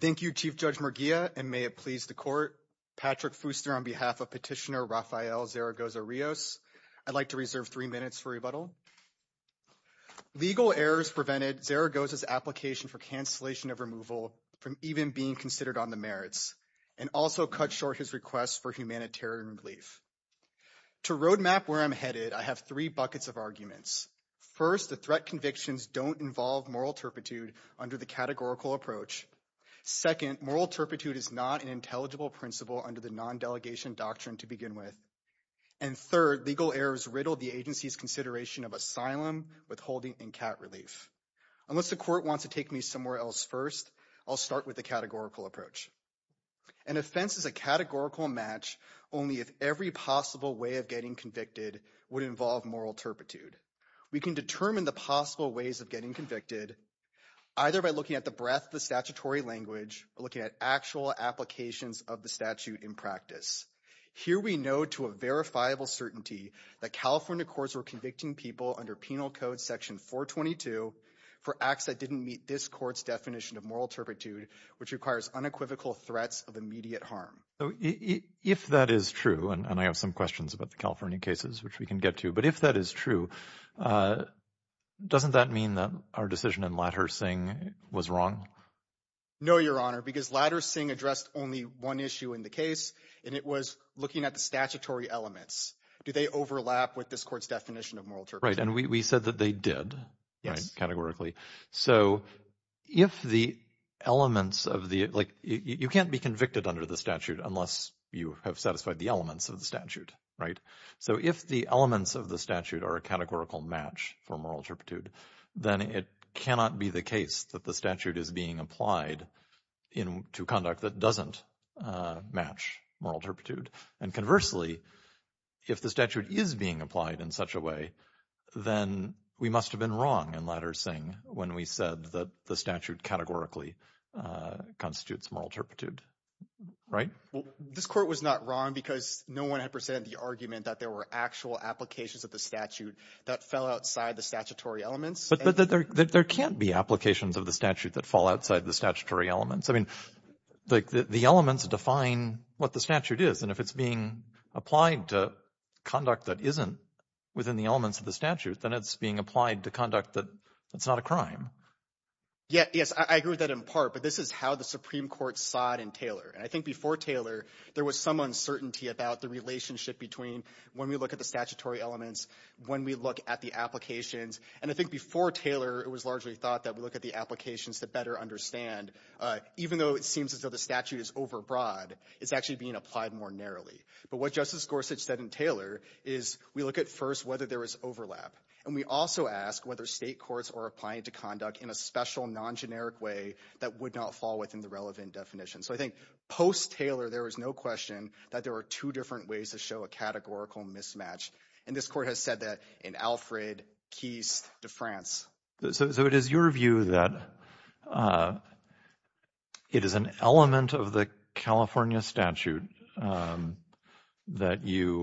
Thank you, Chief Judge Murguia, and may it please the Court, Patrick Fooster on behalf of Petitioner Rafael Zaragoza Rios, I'd like to reserve three minutes for rebuttal. Legal errors prevented Zaragoza's application for cancellation of removal from even being considered on the merits, and also cut short his request for humanitarian relief. To roadmap where I'm headed, I have three buckets of arguments. First, the threat convictions don't involve moral turpitude under the categorical approach. Second, moral turpitude is not an intelligible principle under the non-delegation doctrine to begin with. And third, legal errors riddled the agency's consideration of asylum, withholding, and cat relief. Unless the Court wants to take me somewhere else first, I'll start with the categorical approach. An offense is a categorical match only if every possible way of getting convicted would involve moral turpitude. We can determine the possible ways of getting convicted either by looking at the breadth of the statutory language or looking at actual applications of the statute in practice. Here we know to a verifiable certainty that California courts were convicting people under Penal Code Section 422 for acts that didn't meet this court's definition of moral turpitude, which requires unequivocal threats of immediate harm. If that is true, and I have some questions about the California cases, which we can get to, but if that is true, doesn't that mean that our decision in Ladders-Singh was wrong? No, Your Honor, because Ladders-Singh addressed only one issue in the case, and it was looking at the statutory elements. Do they overlap with this court's definition of moral turpitude? Right, and we said that they did categorically. So if the elements of the – like you can't be convicted under the statute unless you have satisfied the elements of the statute, right? So if the elements of the statute are a categorical match for moral turpitude, then it cannot be the case that the statute is being applied to conduct that doesn't match moral turpitude. And conversely, if the statute is being applied in such a way, then we must have been wrong in Ladders-Singh when we said that the statute categorically constitutes moral turpitude, right? Well, this court was not wrong because no one had presented the argument that there were actual applications of the statute that fell outside the statutory elements. But there can't be applications of the statute that fall outside the statutory elements. I mean, the elements define what the statute is, and if it's being applied to conduct that isn't within the elements of the statute, then it's being applied to conduct that's not a crime. Yes, I agree with that in part, but this is how the Supreme Court saw it in Taylor. And I think before Taylor, there was some uncertainty about the relationship between when we look at the statutory elements, when we look at the applications. And I think before Taylor, it was largely thought that we look at the applications to better understand, even though it seems as though the statute is overbroad, it's actually being applied more narrowly. But what Justice Gorsuch said in Taylor is we look at first whether there was overlap. And we also ask whether State courts are applying to conduct in a special, non-generic way that would not fall within the relevant definition. So I think post-Taylor, there was no question that there were two different ways to show a categorical mismatch. And this Court has said that in Alfred, Keist, de France. So it is your view that it is an element of the California statute that you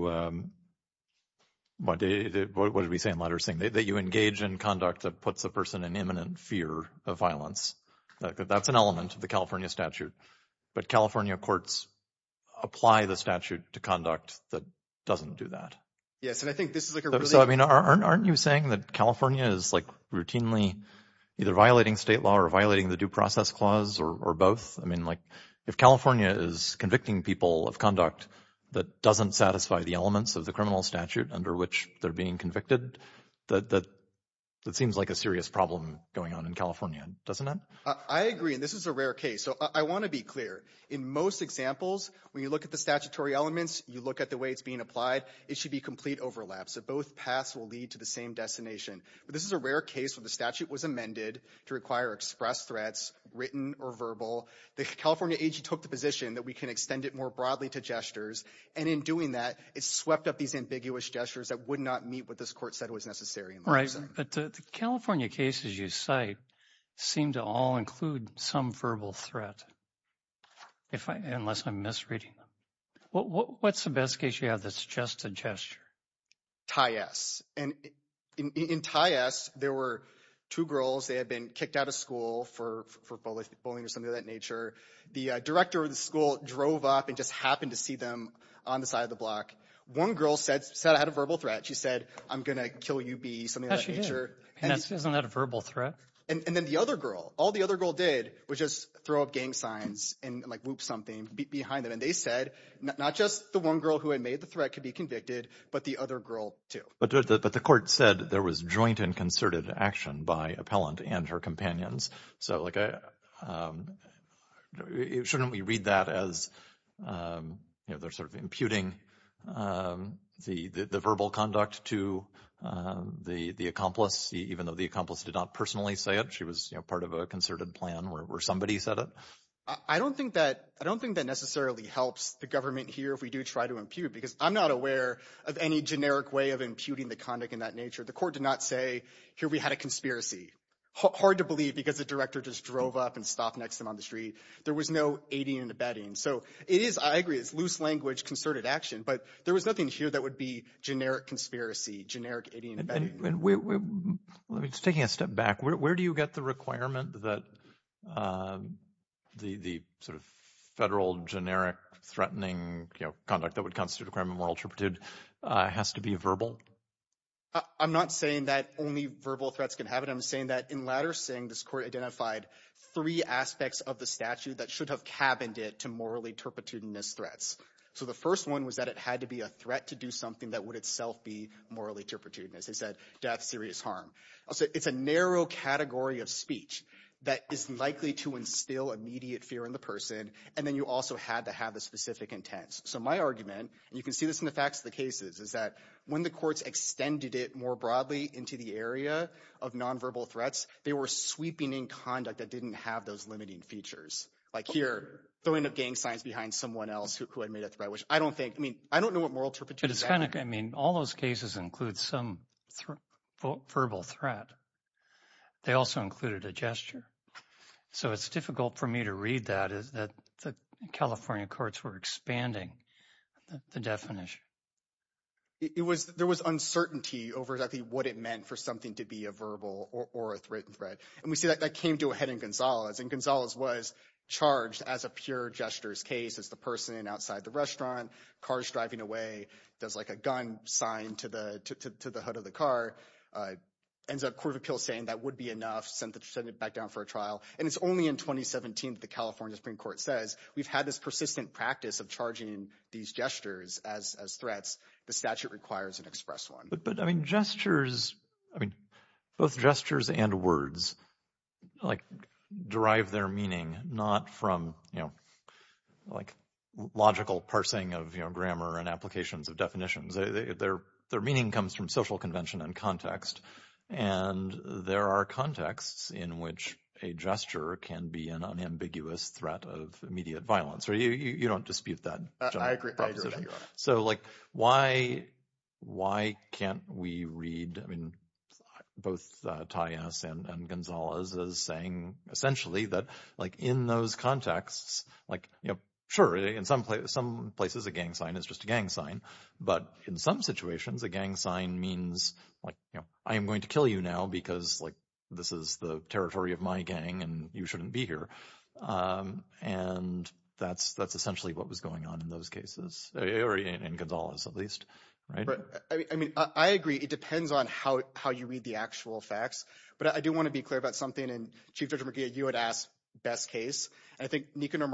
engage in conduct that puts a person in imminent fear of violence. That's an element of the California statute. But California courts apply the statute to conduct that doesn't do that. Aren't you saying that California is routinely either violating state law or violating the Due Process Clause or both? If California is convicting people of conduct that doesn't satisfy the elements of the criminal statute under which they're being convicted, that seems like a serious problem going on in California, doesn't it? I agree, and this is a rare case. So I want to be clear. In most examples, when you look at the statutory elements, you look at the way it's being applied, it should be complete overlap. So both paths will lead to the same destination. But this is a rare case where the statute was amended to require express threats, written or verbal. The California AG took the position that we can extend it more broadly to gestures. And in doing that, it swept up these ambiguous gestures that would not meet what this Court said was necessary. Right, but the California cases you cite seem to all include some verbal threat, unless I'm misreading them. What's the best case you have that's just a gesture? Ty-S. And in Ty-S, there were two girls. They had been kicked out of school for bullying or something of that nature. The director of the school drove up and just happened to see them on the side of the block. One girl said I had a verbal threat. She said I'm going to kill you, B, something of that nature. Isn't that a verbal threat? And then the other girl, all the other girl did was just throw up gang signs and whoop something behind them. And they said not just the one girl who had made the threat could be convicted, but the other girl too. But the Court said there was joint and concerted action by appellant and her companions. So shouldn't we read that as they're sort of imputing the verbal conduct to the accomplice, even though the accomplice did not personally say it? She was part of a concerted plan where somebody said it. I don't think that necessarily helps the government here if we do try to impute, because I'm not aware of any generic way of imputing the conduct in that nature. The Court did not say here we had a conspiracy. Hard to believe because the director just drove up and stopped next to him on the street. There was no aiding and abetting. So it is, I agree, it's loose language, concerted action. But there was nothing here that would be generic conspiracy, generic aiding and abetting. Let me just, taking a step back, where do you get the requirement that the sort of federal generic threatening conduct that would constitute a crime of moral turpitude has to be verbal? I'm not saying that only verbal threats can have it. But I'm saying that in Latter Singh, this Court identified three aspects of the statute that should have cabined it to morally turpitudinous threats. So the first one was that it had to be a threat to do something that would itself be morally turpitudinous. They said death, serious harm. It's a narrow category of speech that is likely to instill immediate fear in the person. And then you also had to have a specific intent. So my argument, and you can see this in the facts of the cases, is that when the courts extended it more broadly into the area of nonverbal threats, they were sweeping in conduct that didn't have those limiting features. Like here, throwing up gang signs behind someone else who had made a threat, which I don't think, I mean, I don't know what moral turpitude is. But it's kind of, I mean, all those cases include some verbal threat. They also included a gesture. So it's difficult for me to read that. The California courts were expanding the definition. There was uncertainty over exactly what it meant for something to be a verbal or a written threat. And we see that came to a head in Gonzalez. And Gonzalez was charged as a pure gestures case. It's the person outside the restaurant, car's driving away, does like a gun sign to the hood of the car. Ends up Court of Appeals saying that would be enough. Sent it back down for a trial. And it's only in 2017 that the California Supreme Court says, we've had this persistent practice of charging these gestures as threats. The statute requires an express one. But, I mean, gestures, I mean, both gestures and words, like, derive their meaning, not from, you know, like logical parsing of, you know, grammar and applications of definitions. Their meaning comes from social convention and context. And there are contexts in which a gesture can be an unambiguous threat of immediate violence. So you don't dispute that. I agree. So, like, why can't we read, I mean, both Thais and Gonzalez as saying essentially that, like, in those contexts, like, you know, sure, in some places a gang sign is just a gang sign. But in some situations a gang sign means, like, you know, I am going to kill you now because, like, this is the territory of my gang and you shouldn't be here. And that's essentially what was going on in those cases, or in Gonzalez at least. Right? I mean, I agree. It depends on how you read the actual facts. But I do want to be clear about something. And Chief Judge McGee, you had asked best case. And I think Nicanor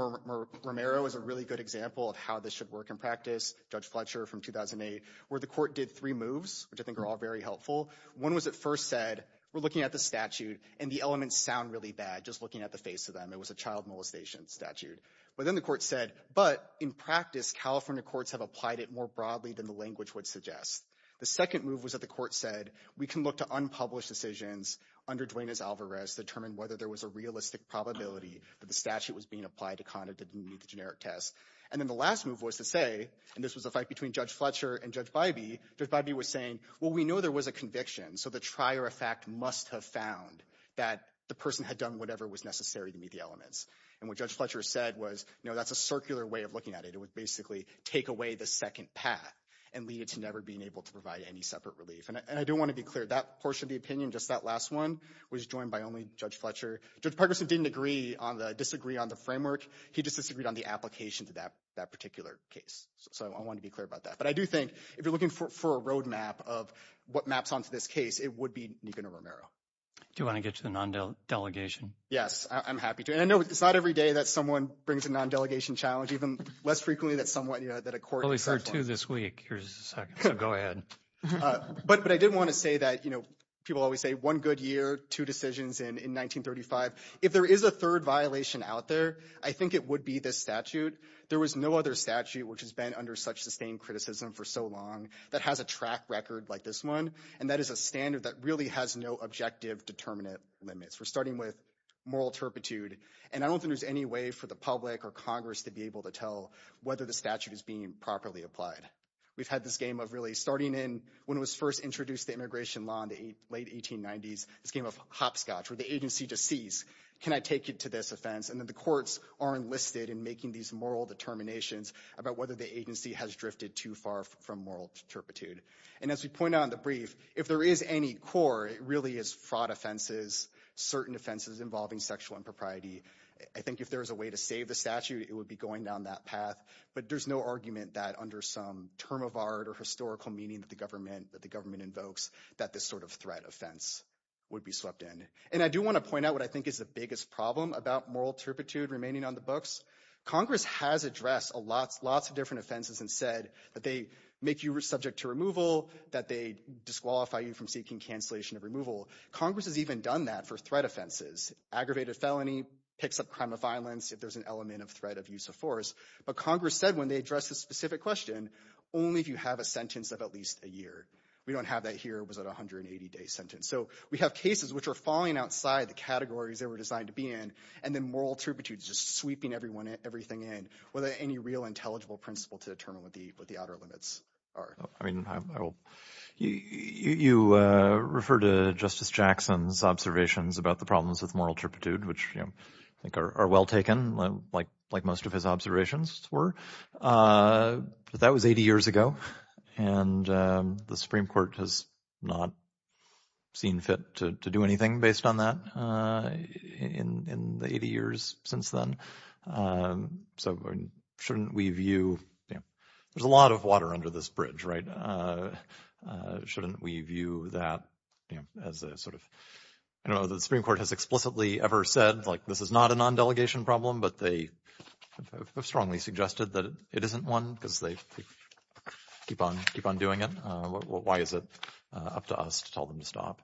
Romero is a really good example of how this should work in practice. Judge Fletcher from 2008, where the court did three moves, which I think are all very helpful. One was it first said, we're looking at the statute, and the elements sound really bad just looking at the face of them. It was a child molestation statute. But then the court said, but in practice, California courts have applied it more broadly than the language would suggest. The second move was that the court said, we can look to unpublished decisions under Duenas-Alvarez to determine whether there was a realistic probability that the statute was being applied to conduct a generic test. And then the last move was to say, and this was a fight between Judge Fletcher and Judge Bybee. Judge Bybee was saying, well, we know there was a conviction. So the trier effect must have found that the person had done whatever was necessary to meet the elements. And what Judge Fletcher said was, no, that's a circular way of looking at it. It would basically take away the second path and lead it to never being able to provide any separate relief. And I do want to be clear. That portion of the opinion, just that last one, was joined by only Judge Fletcher. Judge Parkinson didn't disagree on the framework. He just disagreed on the application to that particular case. So I want to be clear about that. But I do think if you're looking for a road map of what maps onto this case, it would be Nicanor Romero. Do you want to get to the non-delegation? Yes, I'm happy to. And I know it's not every day that someone brings a non-delegation challenge. Even less frequently than someone that a court— Well, we heard two this week. Here's the second. So go ahead. But I did want to say that, you know, people always say one good year, two decisions in 1935. If there is a third violation out there, I think it would be this statute. There was no other statute which has been under such sustained criticism for so long that has a track record like this one. And that is a standard that really has no objective determinant limits. We're starting with moral turpitude. And I don't think there's any way for the public or Congress to be able to tell whether the statute is being properly applied. We've had this game of really starting in when it was first introduced to immigration law in the late 1890s, this game of hopscotch where the agency just sees, can I take you to this offense? And then the courts are enlisted in making these moral determinations about whether the agency has drifted too far from moral turpitude. And as we point out in the brief, if there is any core, it really is fraud offenses, certain offenses involving sexual impropriety. I think if there was a way to save the statute, it would be going down that path. But there's no argument that under some term of art or historical meaning that the government invokes that this sort of threat offense would be swept in. And I do want to point out what I think is the biggest problem about moral turpitude remaining on the books. Congress has addressed lots of different offenses and said that they make you subject to removal, that they disqualify you from seeking cancellation of removal. Congress has even done that for threat offenses. Aggravated felony picks up crime of violence if there's an element of threat of use of force. But Congress said when they addressed this specific question, only if you have a sentence of at least a year. We don't have that here. It was a 180-day sentence. So we have cases which are falling outside the categories they were designed to be in, and then moral turpitude is just sweeping everything in without any real intelligible principle to determine what the outer limits are. I mean, you refer to Justice Jackson's observations about the problems with moral turpitude, which I think are well taken, like most of his observations were. But that was 80 years ago, and the Supreme Court has not seen fit to do anything based on that in the 80 years since then. So shouldn't we view – there's a lot of water under this bridge, right? Shouldn't we view that as a sort of – I don't know if the Supreme Court has explicitly ever said, like, this is not a non-delegation problem, but they have strongly suggested that it isn't one because they keep on doing it. Why is it up to us to tell them to stop?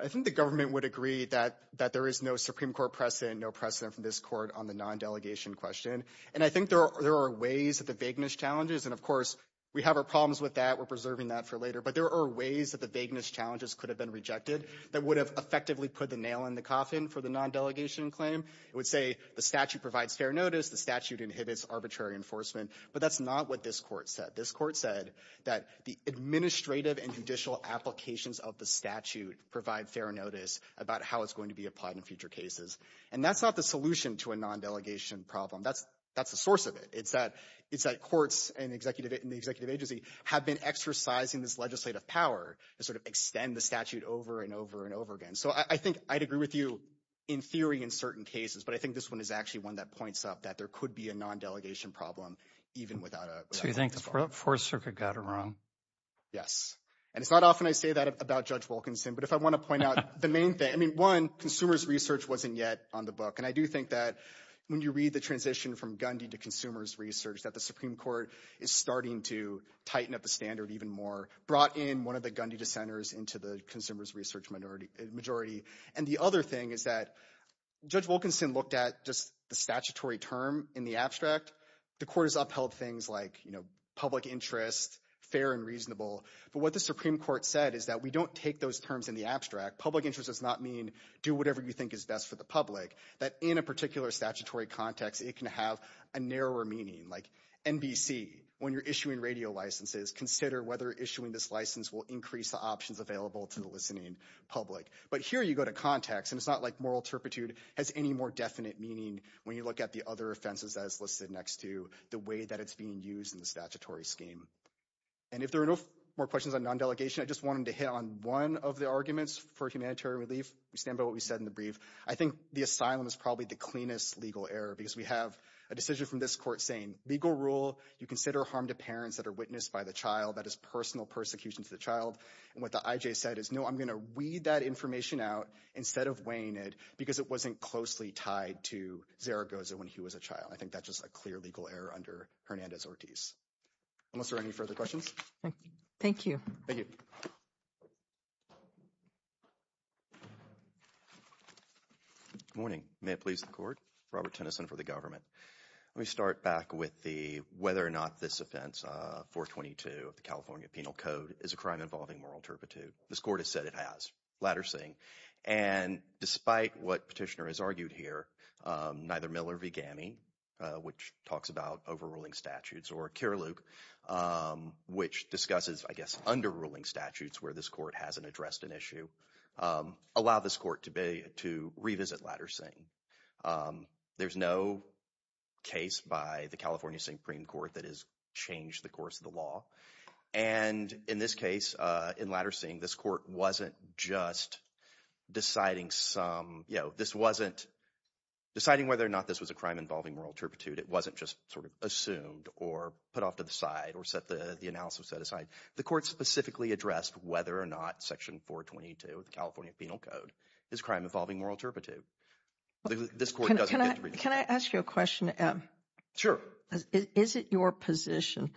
I think the government would agree that there is no Supreme Court precedent, no precedent from this court on the non-delegation question. And I think there are ways that the vagueness challenges – and, of course, we have our problems with that. We're preserving that for later. But there are ways that the vagueness challenges could have been rejected that would have effectively put the nail in the coffin for the non-delegation claim. It would say the statute provides fair notice, the statute inhibits arbitrary enforcement. But that's not what this court said. This court said that the administrative and judicial applications of the statute provide fair notice about how it's going to be applied in future cases. And that's not the solution to a non-delegation problem. That's the source of it. It's that courts and the executive agency have been exercising this legislative power to sort of extend the statute over and over and over again. So I think I'd agree with you in theory in certain cases, but I think this one is actually one that points up that there could be a non-delegation problem even without a – So you think the Fourth Circuit got it wrong? Yes. And it's not often I say that about Judge Wilkinson, but if I want to point out the main thing – I mean, one, consumers' research wasn't yet on the book. And I do think that when you read the transition from Gundy to consumers' research, that the Supreme Court is starting to tighten up the standard even more, brought in one of the Gundy dissenters into the consumers' research majority. And the other thing is that Judge Wilkinson looked at just the statutory term in the abstract. The court has upheld things like public interest, fair and reasonable. But what the Supreme Court said is that we don't take those terms in the abstract. Public interest does not mean do whatever you think is best for the public. That in a particular statutory context, it can have a narrower meaning. Like NBC, when you're issuing radio licenses, consider whether issuing this license will increase the options available to the listening public. But here you go to context, and it's not like moral turpitude has any more definite meaning when you look at the other offenses as listed next to the way that it's being used in the statutory scheme. And if there are no more questions on non-delegation, I just wanted to hit on one of the arguments for humanitarian relief. We stand by what we said in the brief. I think the asylum is probably the cleanest legal error because we have a decision from this court saying, legal rule, you consider harm to parents that are witnessed by the child. That is personal persecution to the child. And what the IJ said is, no, I'm going to weed that information out instead of weighing it because it wasn't closely tied to Zaragoza when he was a child. I think that's just a clear legal error under Hernandez-Ortiz. Unless there are any further questions. Thank you. Thank you. Good morning. May it please the court. Robert Tennyson for the government. Let me start back with the whether or not this offense, 422 of the California Penal Code, is a crime involving moral turpitude. This court has said it has. Ladder saying. And despite what petitioner has argued here, neither Miller V. Gammy, which talks about overruling statutes, or cure Luke, which discusses, I guess, underruling statutes where this court hasn't addressed an issue. Allow this court to be to revisit Ladder saying there's no case by the California Supreme Court that has changed the course of the law. And in this case, in Ladder saying this court wasn't just deciding some, you know, this wasn't deciding whether or not this was a crime involving moral turpitude. It wasn't just sort of assumed or put off to the side or set the analysis set aside. The court specifically addressed whether or not Section 422 of the California Penal Code is crime involving moral turpitude. Can I ask you a question? Sure. Is it your position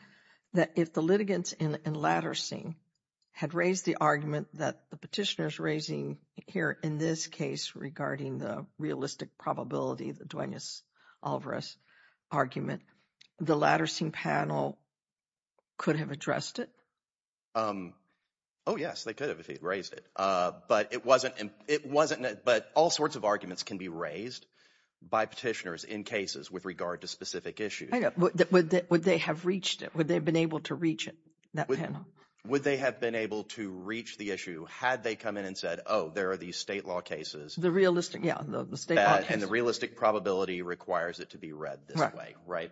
that if the litigants in Ladder saying had raised the argument that the petitioners raising here in this case regarding the realistic probability, the Duenas Alvarez argument, the Ladder saying panel could have addressed it? Oh, yes, they could have raised it. But it wasn't, but all sorts of arguments can be raised by petitioners in cases with regard to specific issues. Would they have reached it? Would they have been able to reach it, that panel? Would they have been able to reach the issue had they come in and said, oh, there are these state law cases. The realistic, yeah, the state law cases. And the realistic probability requires it to be read this way. Right.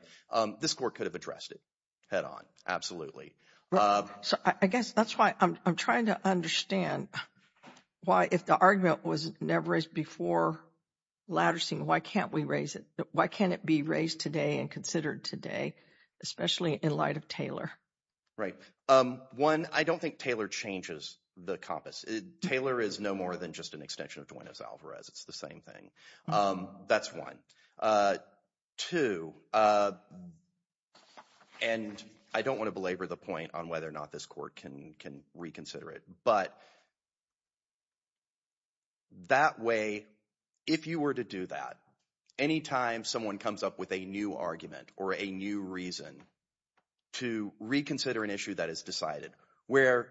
This court could have addressed it head on. Absolutely. So I guess that's why I'm trying to understand why if the argument was never raised before Ladder saying why can't we raise it? Why can't it be raised today and considered today, especially in light of Taylor? Right. One, I don't think Taylor changes the compass. Taylor is no more than just an extension of Duenas Alvarez. It's the same thing. That's one. Two, and I don't want to belabor the point on whether or not this court can reconsider it. But that way, if you were to do that, anytime someone comes up with a new argument or a new reason to reconsider an issue that is decided where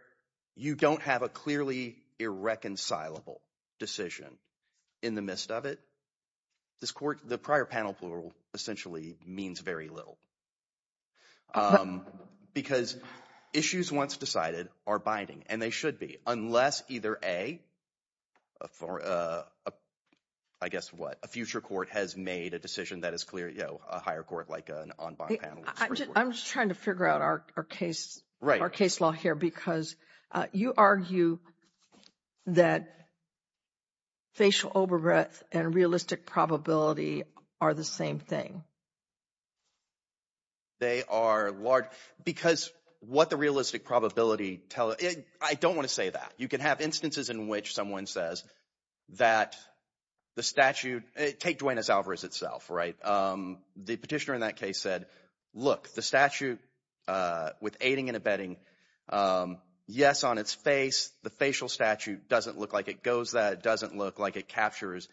you don't have a clearly irreconcilable decision in the midst of it. This court, the prior panel plural, essentially means very little. Because issues once decided are binding, and they should be, unless either a, I guess what, a future court has made a decision that is clear, a higher court like an en banc panel. I'm just trying to figure out our case, our case law here, because you argue that facial overbreath and realistic probability are the same thing. They are large, because what the realistic probability, I don't want to say that. You can have instances in which someone says that the statute, take Duenas Alvarez itself, right? The petitioner in that case said, look, the statute with aiding and abetting, yes, on its face, the facial statute doesn't look like it goes that, doesn't look like it captures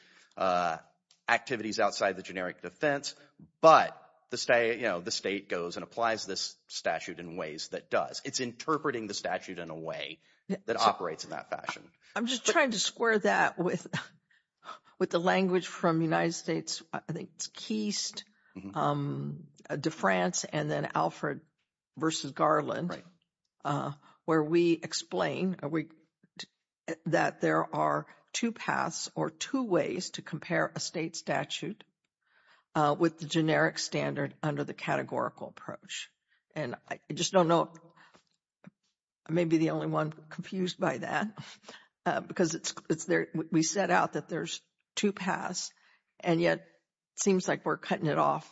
activities outside the generic defense. But the state goes and applies this statute in ways that does. It's interpreting the statute in a way that operates in that fashion. I'm just trying to square that with the language from the United States. I think it's Keist, De France, and then Alfred versus Garland, where we explain that there are two paths or two ways to compare a state statute with the generic standard under the categorical approach. And I just don't know, I may be the only one confused by that, because we set out that there's two paths, and yet it seems like we're cutting it off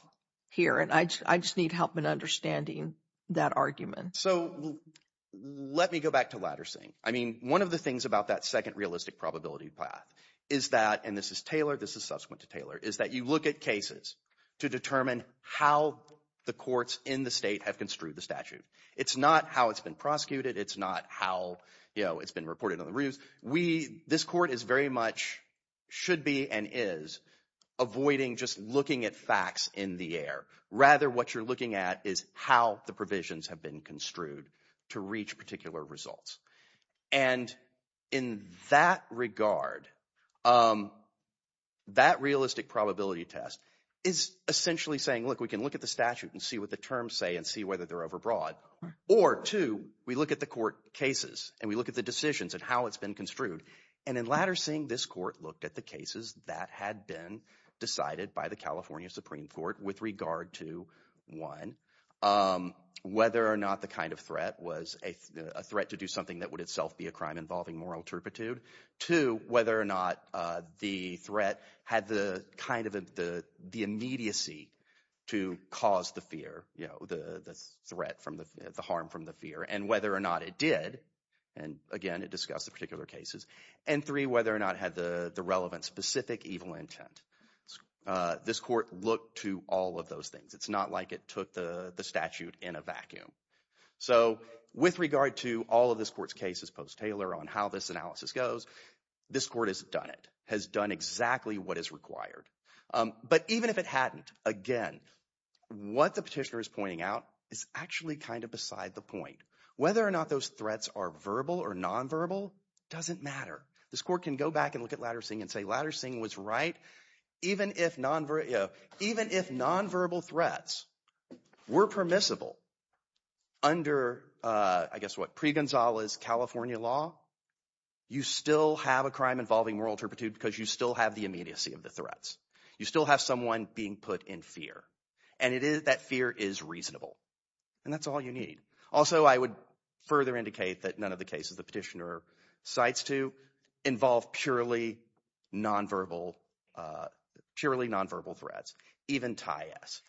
here. And I just need help in understanding that argument. So let me go back to Latter Singh. I mean, one of the things about that second realistic probability path is that, and this is Taylor, this is subsequent to Taylor, is that you look at cases to determine how the courts in the state have construed the statute. It's not how it's been prosecuted. It's not how it's been reported on the reviews. This court is very much, should be, and is avoiding just looking at facts in the air. Rather, what you're looking at is how the provisions have been construed to reach particular results. And in that regard, that realistic probability test is essentially saying, look, we can look at the statute and see what the terms say and see whether they're overbroad. Or two, we look at the court cases and we look at the decisions and how it's been construed. And in Latter Singh, this court looked at the cases that had been decided by the California Supreme Court with regard to, one, whether or not the kind of threat was a threat to do something that would itself be a crime involving moral turpitude. Two, whether or not the threat had the kind of the immediacy to cause the fear, the threat from the – the harm from the fear. And whether or not it did, and again, it discussed the particular cases. And three, whether or not it had the relevant specific evil intent. This court looked to all of those things. It's not like it took the statute in a vacuum. So with regard to all of this court's cases post-Taylor on how this analysis goes, this court has done it, has done exactly what is required. But even if it hadn't, again, what the petitioner is pointing out is actually kind of beside the point. Whether or not those threats are verbal or nonverbal doesn't matter. This court can go back and look at Latter Singh and say Latter Singh was right. Even if nonverbal threats were permissible under, I guess what, pre-Gonzalez California law, you still have a crime involving moral turpitude because you still have the immediacy of the threats. You still have someone being put in fear, and it is – that fear is reasonable, and that's all you need. Also, I would further indicate that none of the cases the petitioner cites to involve purely nonverbal threats, even Ty S.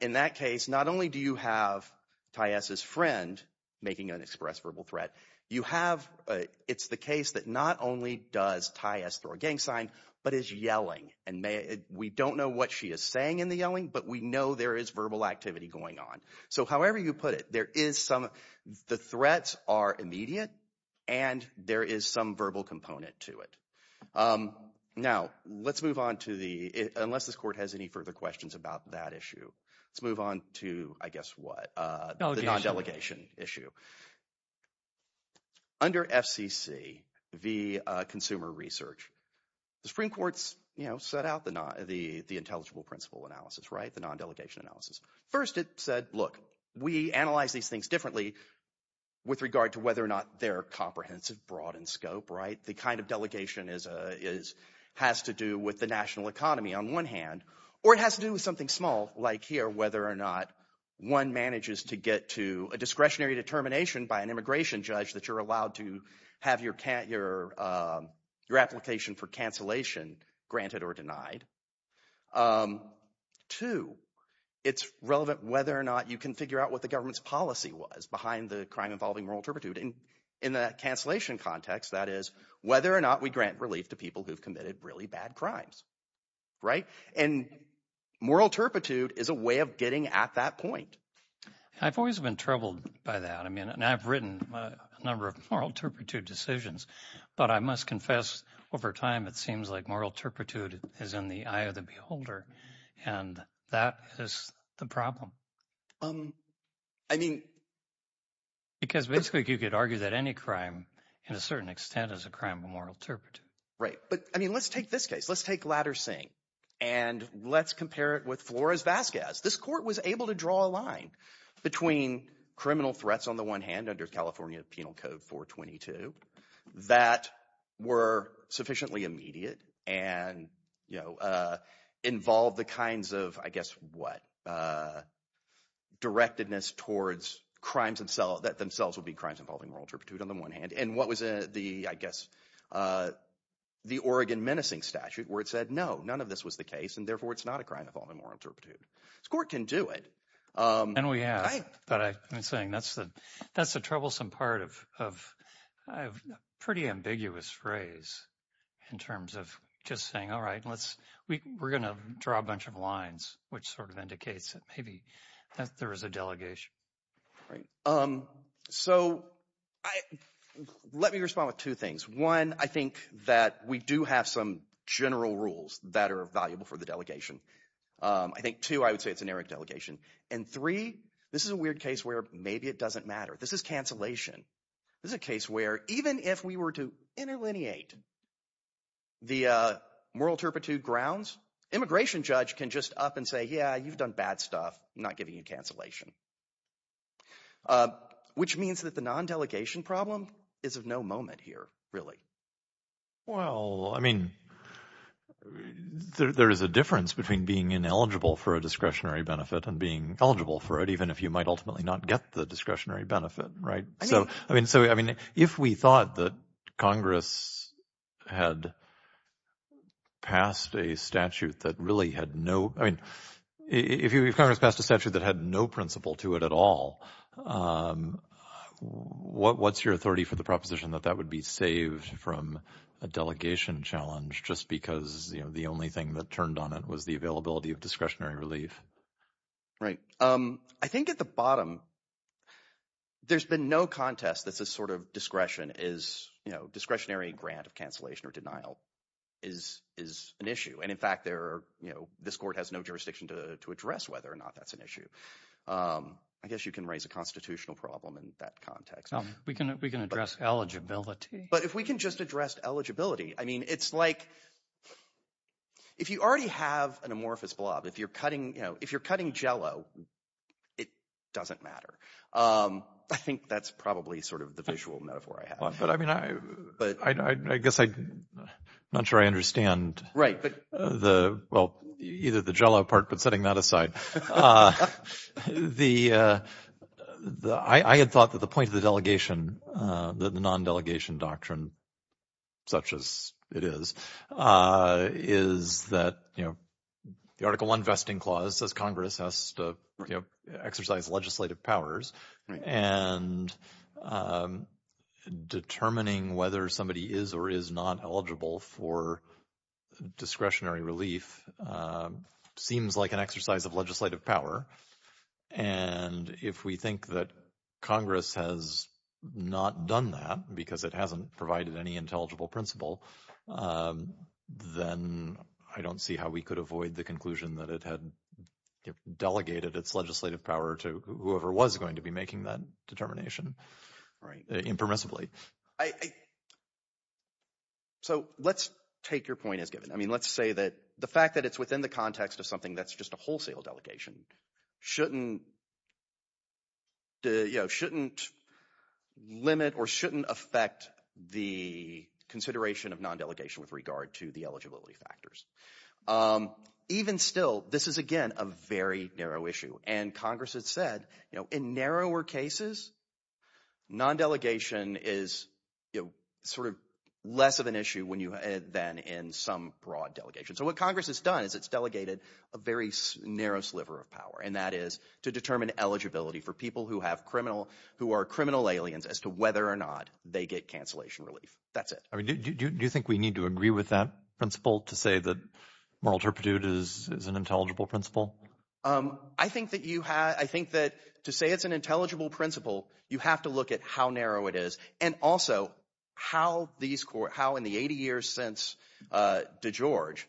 In that case, not only do you have Ty S.'s friend making an express verbal threat, you have – it's the case that not only does Ty S. throw a gang sign but is yelling. And we don't know what she is saying in the yelling, but we know there is verbal activity going on. So however you put it, there is some – the threats are immediate, and there is some verbal component to it. Now, let's move on to the – unless this court has any further questions about that issue, let's move on to, I guess, what? The non-delegation issue. Under FCC v. Consumer Research, the Supreme Court set out the intelligible principle analysis, the non-delegation analysis. First, it said, look, we analyze these things differently with regard to whether or not they're comprehensive, broad in scope. The kind of delegation is – has to do with the national economy on one hand, or it has to do with something small like here, whether or not one manages to get to a discretionary determination by an immigration judge that you're allowed to have your application for cancellation granted or denied. Two, it's relevant whether or not you can figure out what the government's policy was behind the crime involving moral turpitude. In the cancellation context, that is whether or not we grant relief to people who have committed really bad crimes. And moral turpitude is a way of getting at that point. I've always been troubled by that, and I've written a number of moral turpitude decisions, but I must confess over time it seems like moral turpitude is in the eye of the beholder, and that is the problem. I mean – Because basically you could argue that any crime in a certain extent is a crime of moral turpitude. Right, but I mean let's take this case. Let's take Ladder-Singh, and let's compare it with Flores-Vazquez. This court was able to draw a line between criminal threats on the one hand under California Penal Code 422 that were sufficiently immediate and involved the kinds of, I guess, what? Directedness towards crimes that themselves would be crimes involving moral turpitude on the one hand. And what was the, I guess, the Oregon menacing statute where it said no, none of this was the case, and therefore it's not a crime involving moral turpitude. This court can do it. And we have, but I've been saying that's the troublesome part of a pretty ambiguous phrase in terms of just saying all right, we're going to draw a bunch of lines, which sort of indicates that maybe there is a delegation. So let me respond with two things. One, I think that we do have some general rules that are valuable for the delegation. I think two, I would say it's an errant delegation. And three, this is a weird case where maybe it doesn't matter. This is cancellation. This is a case where even if we were to interlineate the moral turpitude grounds, immigration judge can just up and say, yeah, you've done bad stuff. I'm not giving you cancellation, which means that the non-delegation problem is of no moment here really. Well, I mean there is a difference between being ineligible for a discretionary benefit and being eligible for it even if you might ultimately not get the discretionary benefit, right? So I mean if we thought that Congress had passed a statute that really had no – I mean if Congress passed a statute that had no principle to it at all, what's your authority for the proposition that that would be saved from a delegation challenge just because the only thing that turned on it was the availability of discretionary relief? Right. I think at the bottom, there's been no contest that this sort of discretion is – discretionary grant of cancellation or denial is an issue. And in fact, there are – this court has no jurisdiction to address whether or not that's an issue. I guess you can raise a constitutional problem in that context. We can address eligibility. But if we can just address eligibility, I mean it's like if you already have an amorphous blob. If you're cutting Jell-O, it doesn't matter. I think that's probably sort of the visual metaphor I have. But I mean I guess I'm not sure I understand the – well, either the Jell-O part but setting that aside. The – I had thought that the point of the delegation, the non-delegation doctrine such as it is, is that the Article I vesting clause says Congress has to exercise legislative powers. And determining whether somebody is or is not eligible for discretionary relief seems like an exercise of legislative power. And if we think that Congress has not done that because it hasn't provided any intelligible principle, then I don't see how we could avoid the conclusion that it had delegated its legislative power to whoever was going to be making that determination impermissibly. So let's take your point as given. I mean let's say that the fact that it's within the context of something that's just a wholesale delegation shouldn't limit or shouldn't affect the consideration of non-delegation with regard to the eligibility factors. Even still, this is again a very narrow issue, and Congress has said in narrower cases, non-delegation is sort of less of an issue when you – than in some broad delegations. So what Congress has done is it's delegated a very narrow sliver of power, and that is to determine eligibility for people who have criminal – who are criminal aliens as to whether or not they get cancellation relief. That's it. Do you think we need to agree with that principle to say that moral turpitude is an intelligible principle? I think that you – I think that to say it's an intelligible principle, you have to look at how narrow it is and also how these – how in the 80 years since DeGeorge,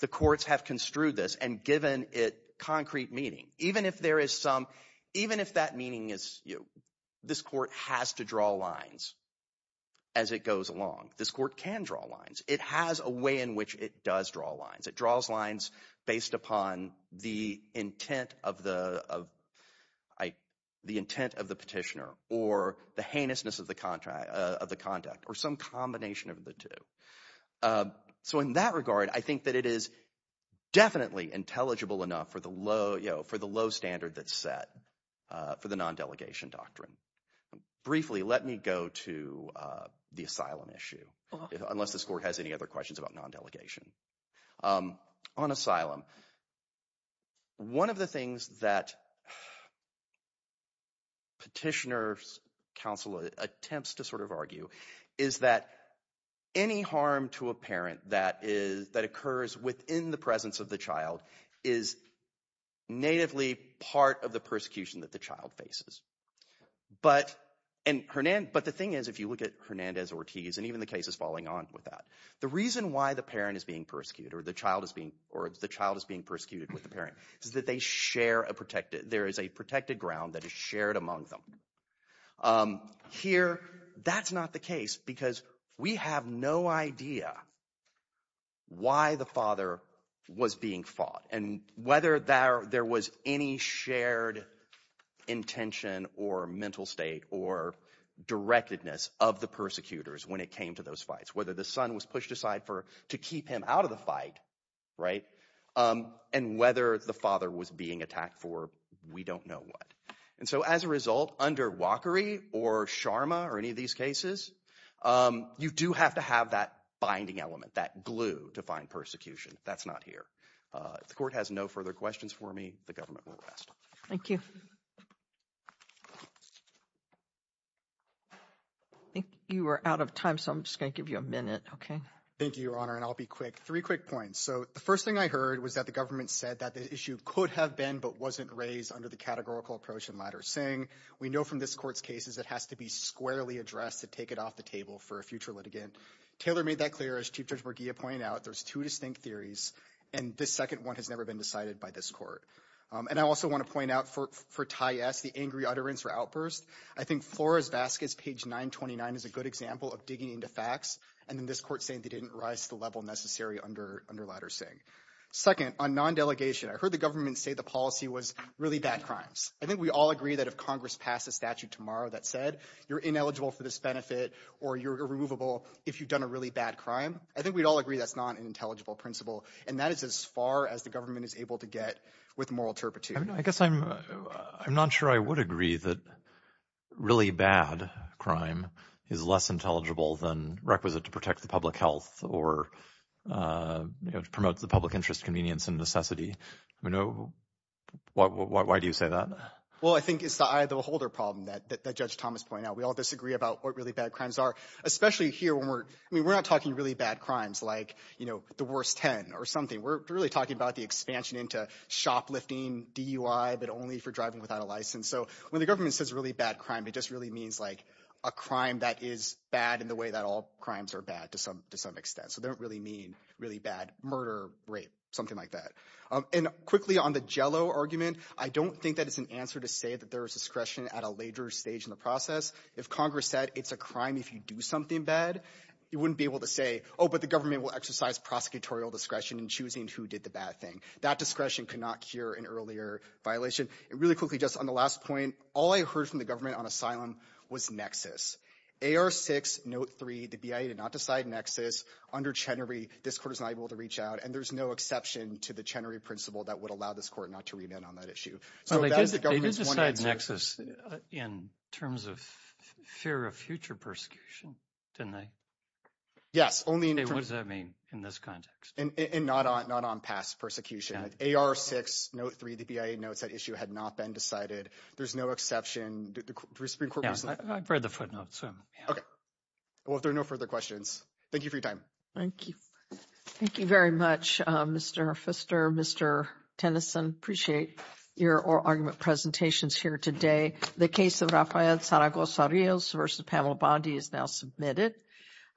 the courts have construed this and given it concrete meaning. Even if there is some – even if that meaning is this court has to draw lines as it goes along, this court can draw lines. It has a way in which it does draw lines. It draws lines based upon the intent of the petitioner or the heinousness of the conduct or some combination of the two. So in that regard, I think that it is definitely intelligible enough for the low standard that's set for the non-delegation doctrine. Briefly, let me go to the asylum issue unless this court has any other questions about non-delegation. On asylum, one of the things that petitioner counsel attempts to sort of argue is that any harm to a parent that occurs within the presence of the child is natively part of the persecution that the child faces. But the thing is if you look at Hernandez-Ortiz and even the cases following on with that. The reason why the parent is being persecuted or the child is being – or the child is being persecuted with the parent is that they share a – there is a protected ground that is shared among them. Here, that's not the case because we have no idea why the father was being fought and whether there was any shared intention or mental state or directedness of the persecutors when it came to those fights. Whether the son was pushed aside to keep him out of the fight and whether the father was being attacked for, we don't know what. And so as a result, under Walkery or Sharma or any of these cases, you do have to have that binding element, that glue to find persecution. That's not here. If the court has no further questions for me, the government will rest. Thank you. I think you are out of time, so I'm just going to give you a minute. Okay. Thank you, Your Honor, and I'll be quick. Three quick points. So the first thing I heard was that the government said that the issue could have been but wasn't raised under the categorical approach in Ladder-Singh. We know from this court's cases it has to be squarely addressed to take it off the table for a future litigant. Taylor made that clear. As Chief Judge Morgilla pointed out, there's two distinct theories, and the second one has never been decided by this court. And I also want to point out for Ty S., the angry utterance or outburst. I think Flores-Vasquez, page 929, is a good example of digging into facts and in this court saying they didn't rise to the level necessary under Ladder-Singh. Second, on non-delegation, I heard the government say the policy was really bad crimes. I think we all agree that if Congress passed a statute tomorrow that said you're ineligible for this benefit or you're removable if you've done a really bad crime, I think we'd all agree that's not an intelligible principle. And that is as far as the government is able to get with moral turpitude. I guess I'm not sure I would agree that really bad crime is less intelligible than requisite to protect the public health or promote the public interest, convenience, and necessity. Why do you say that? Well, I think it's the eye of the beholder problem that Judge Thomas pointed out. We all disagree about what really bad crimes are, especially here. We're not talking really bad crimes like the worst 10 or something. We're really talking about the expansion into shoplifting, DUI, but only for driving without a license. So when the government says really bad crime, it just really means a crime that is bad in the way that all crimes are bad to some extent. So they don't really mean really bad murder, rape, something like that. And quickly on the Jell-O argument, I don't think that it's an answer to say that there is discretion at a later stage in the process. If Congress said it's a crime if you do something bad, you wouldn't be able to say, oh, but the government will exercise prosecutorial discretion in choosing who did the bad thing. That discretion cannot cure an earlier violation. And really quickly, just on the last point, all I heard from the government on asylum was nexus. AR6, Note 3, the BIA did not decide nexus. Under Chenery, this court is not able to reach out, and there's no exception to the Chenery principle that would allow this court not to remand on that issue. So that is the government's one answer. They did decide nexus in terms of fear of future persecution, didn't they? Yes, only in terms of— What does that mean in this context? And not on past persecution. AR6, Note 3, the BIA notes that issue had not been decided. There's no exception. I've read the footnotes. Okay. Well, if there are no further questions, thank you for your time. Thank you. Thank you very much, Mr. Pfister. Mr. Tennyson, appreciate your argument presentations here today. The case of Rafael Zaragoza-Rios v. Pamela Bondi is now submitted.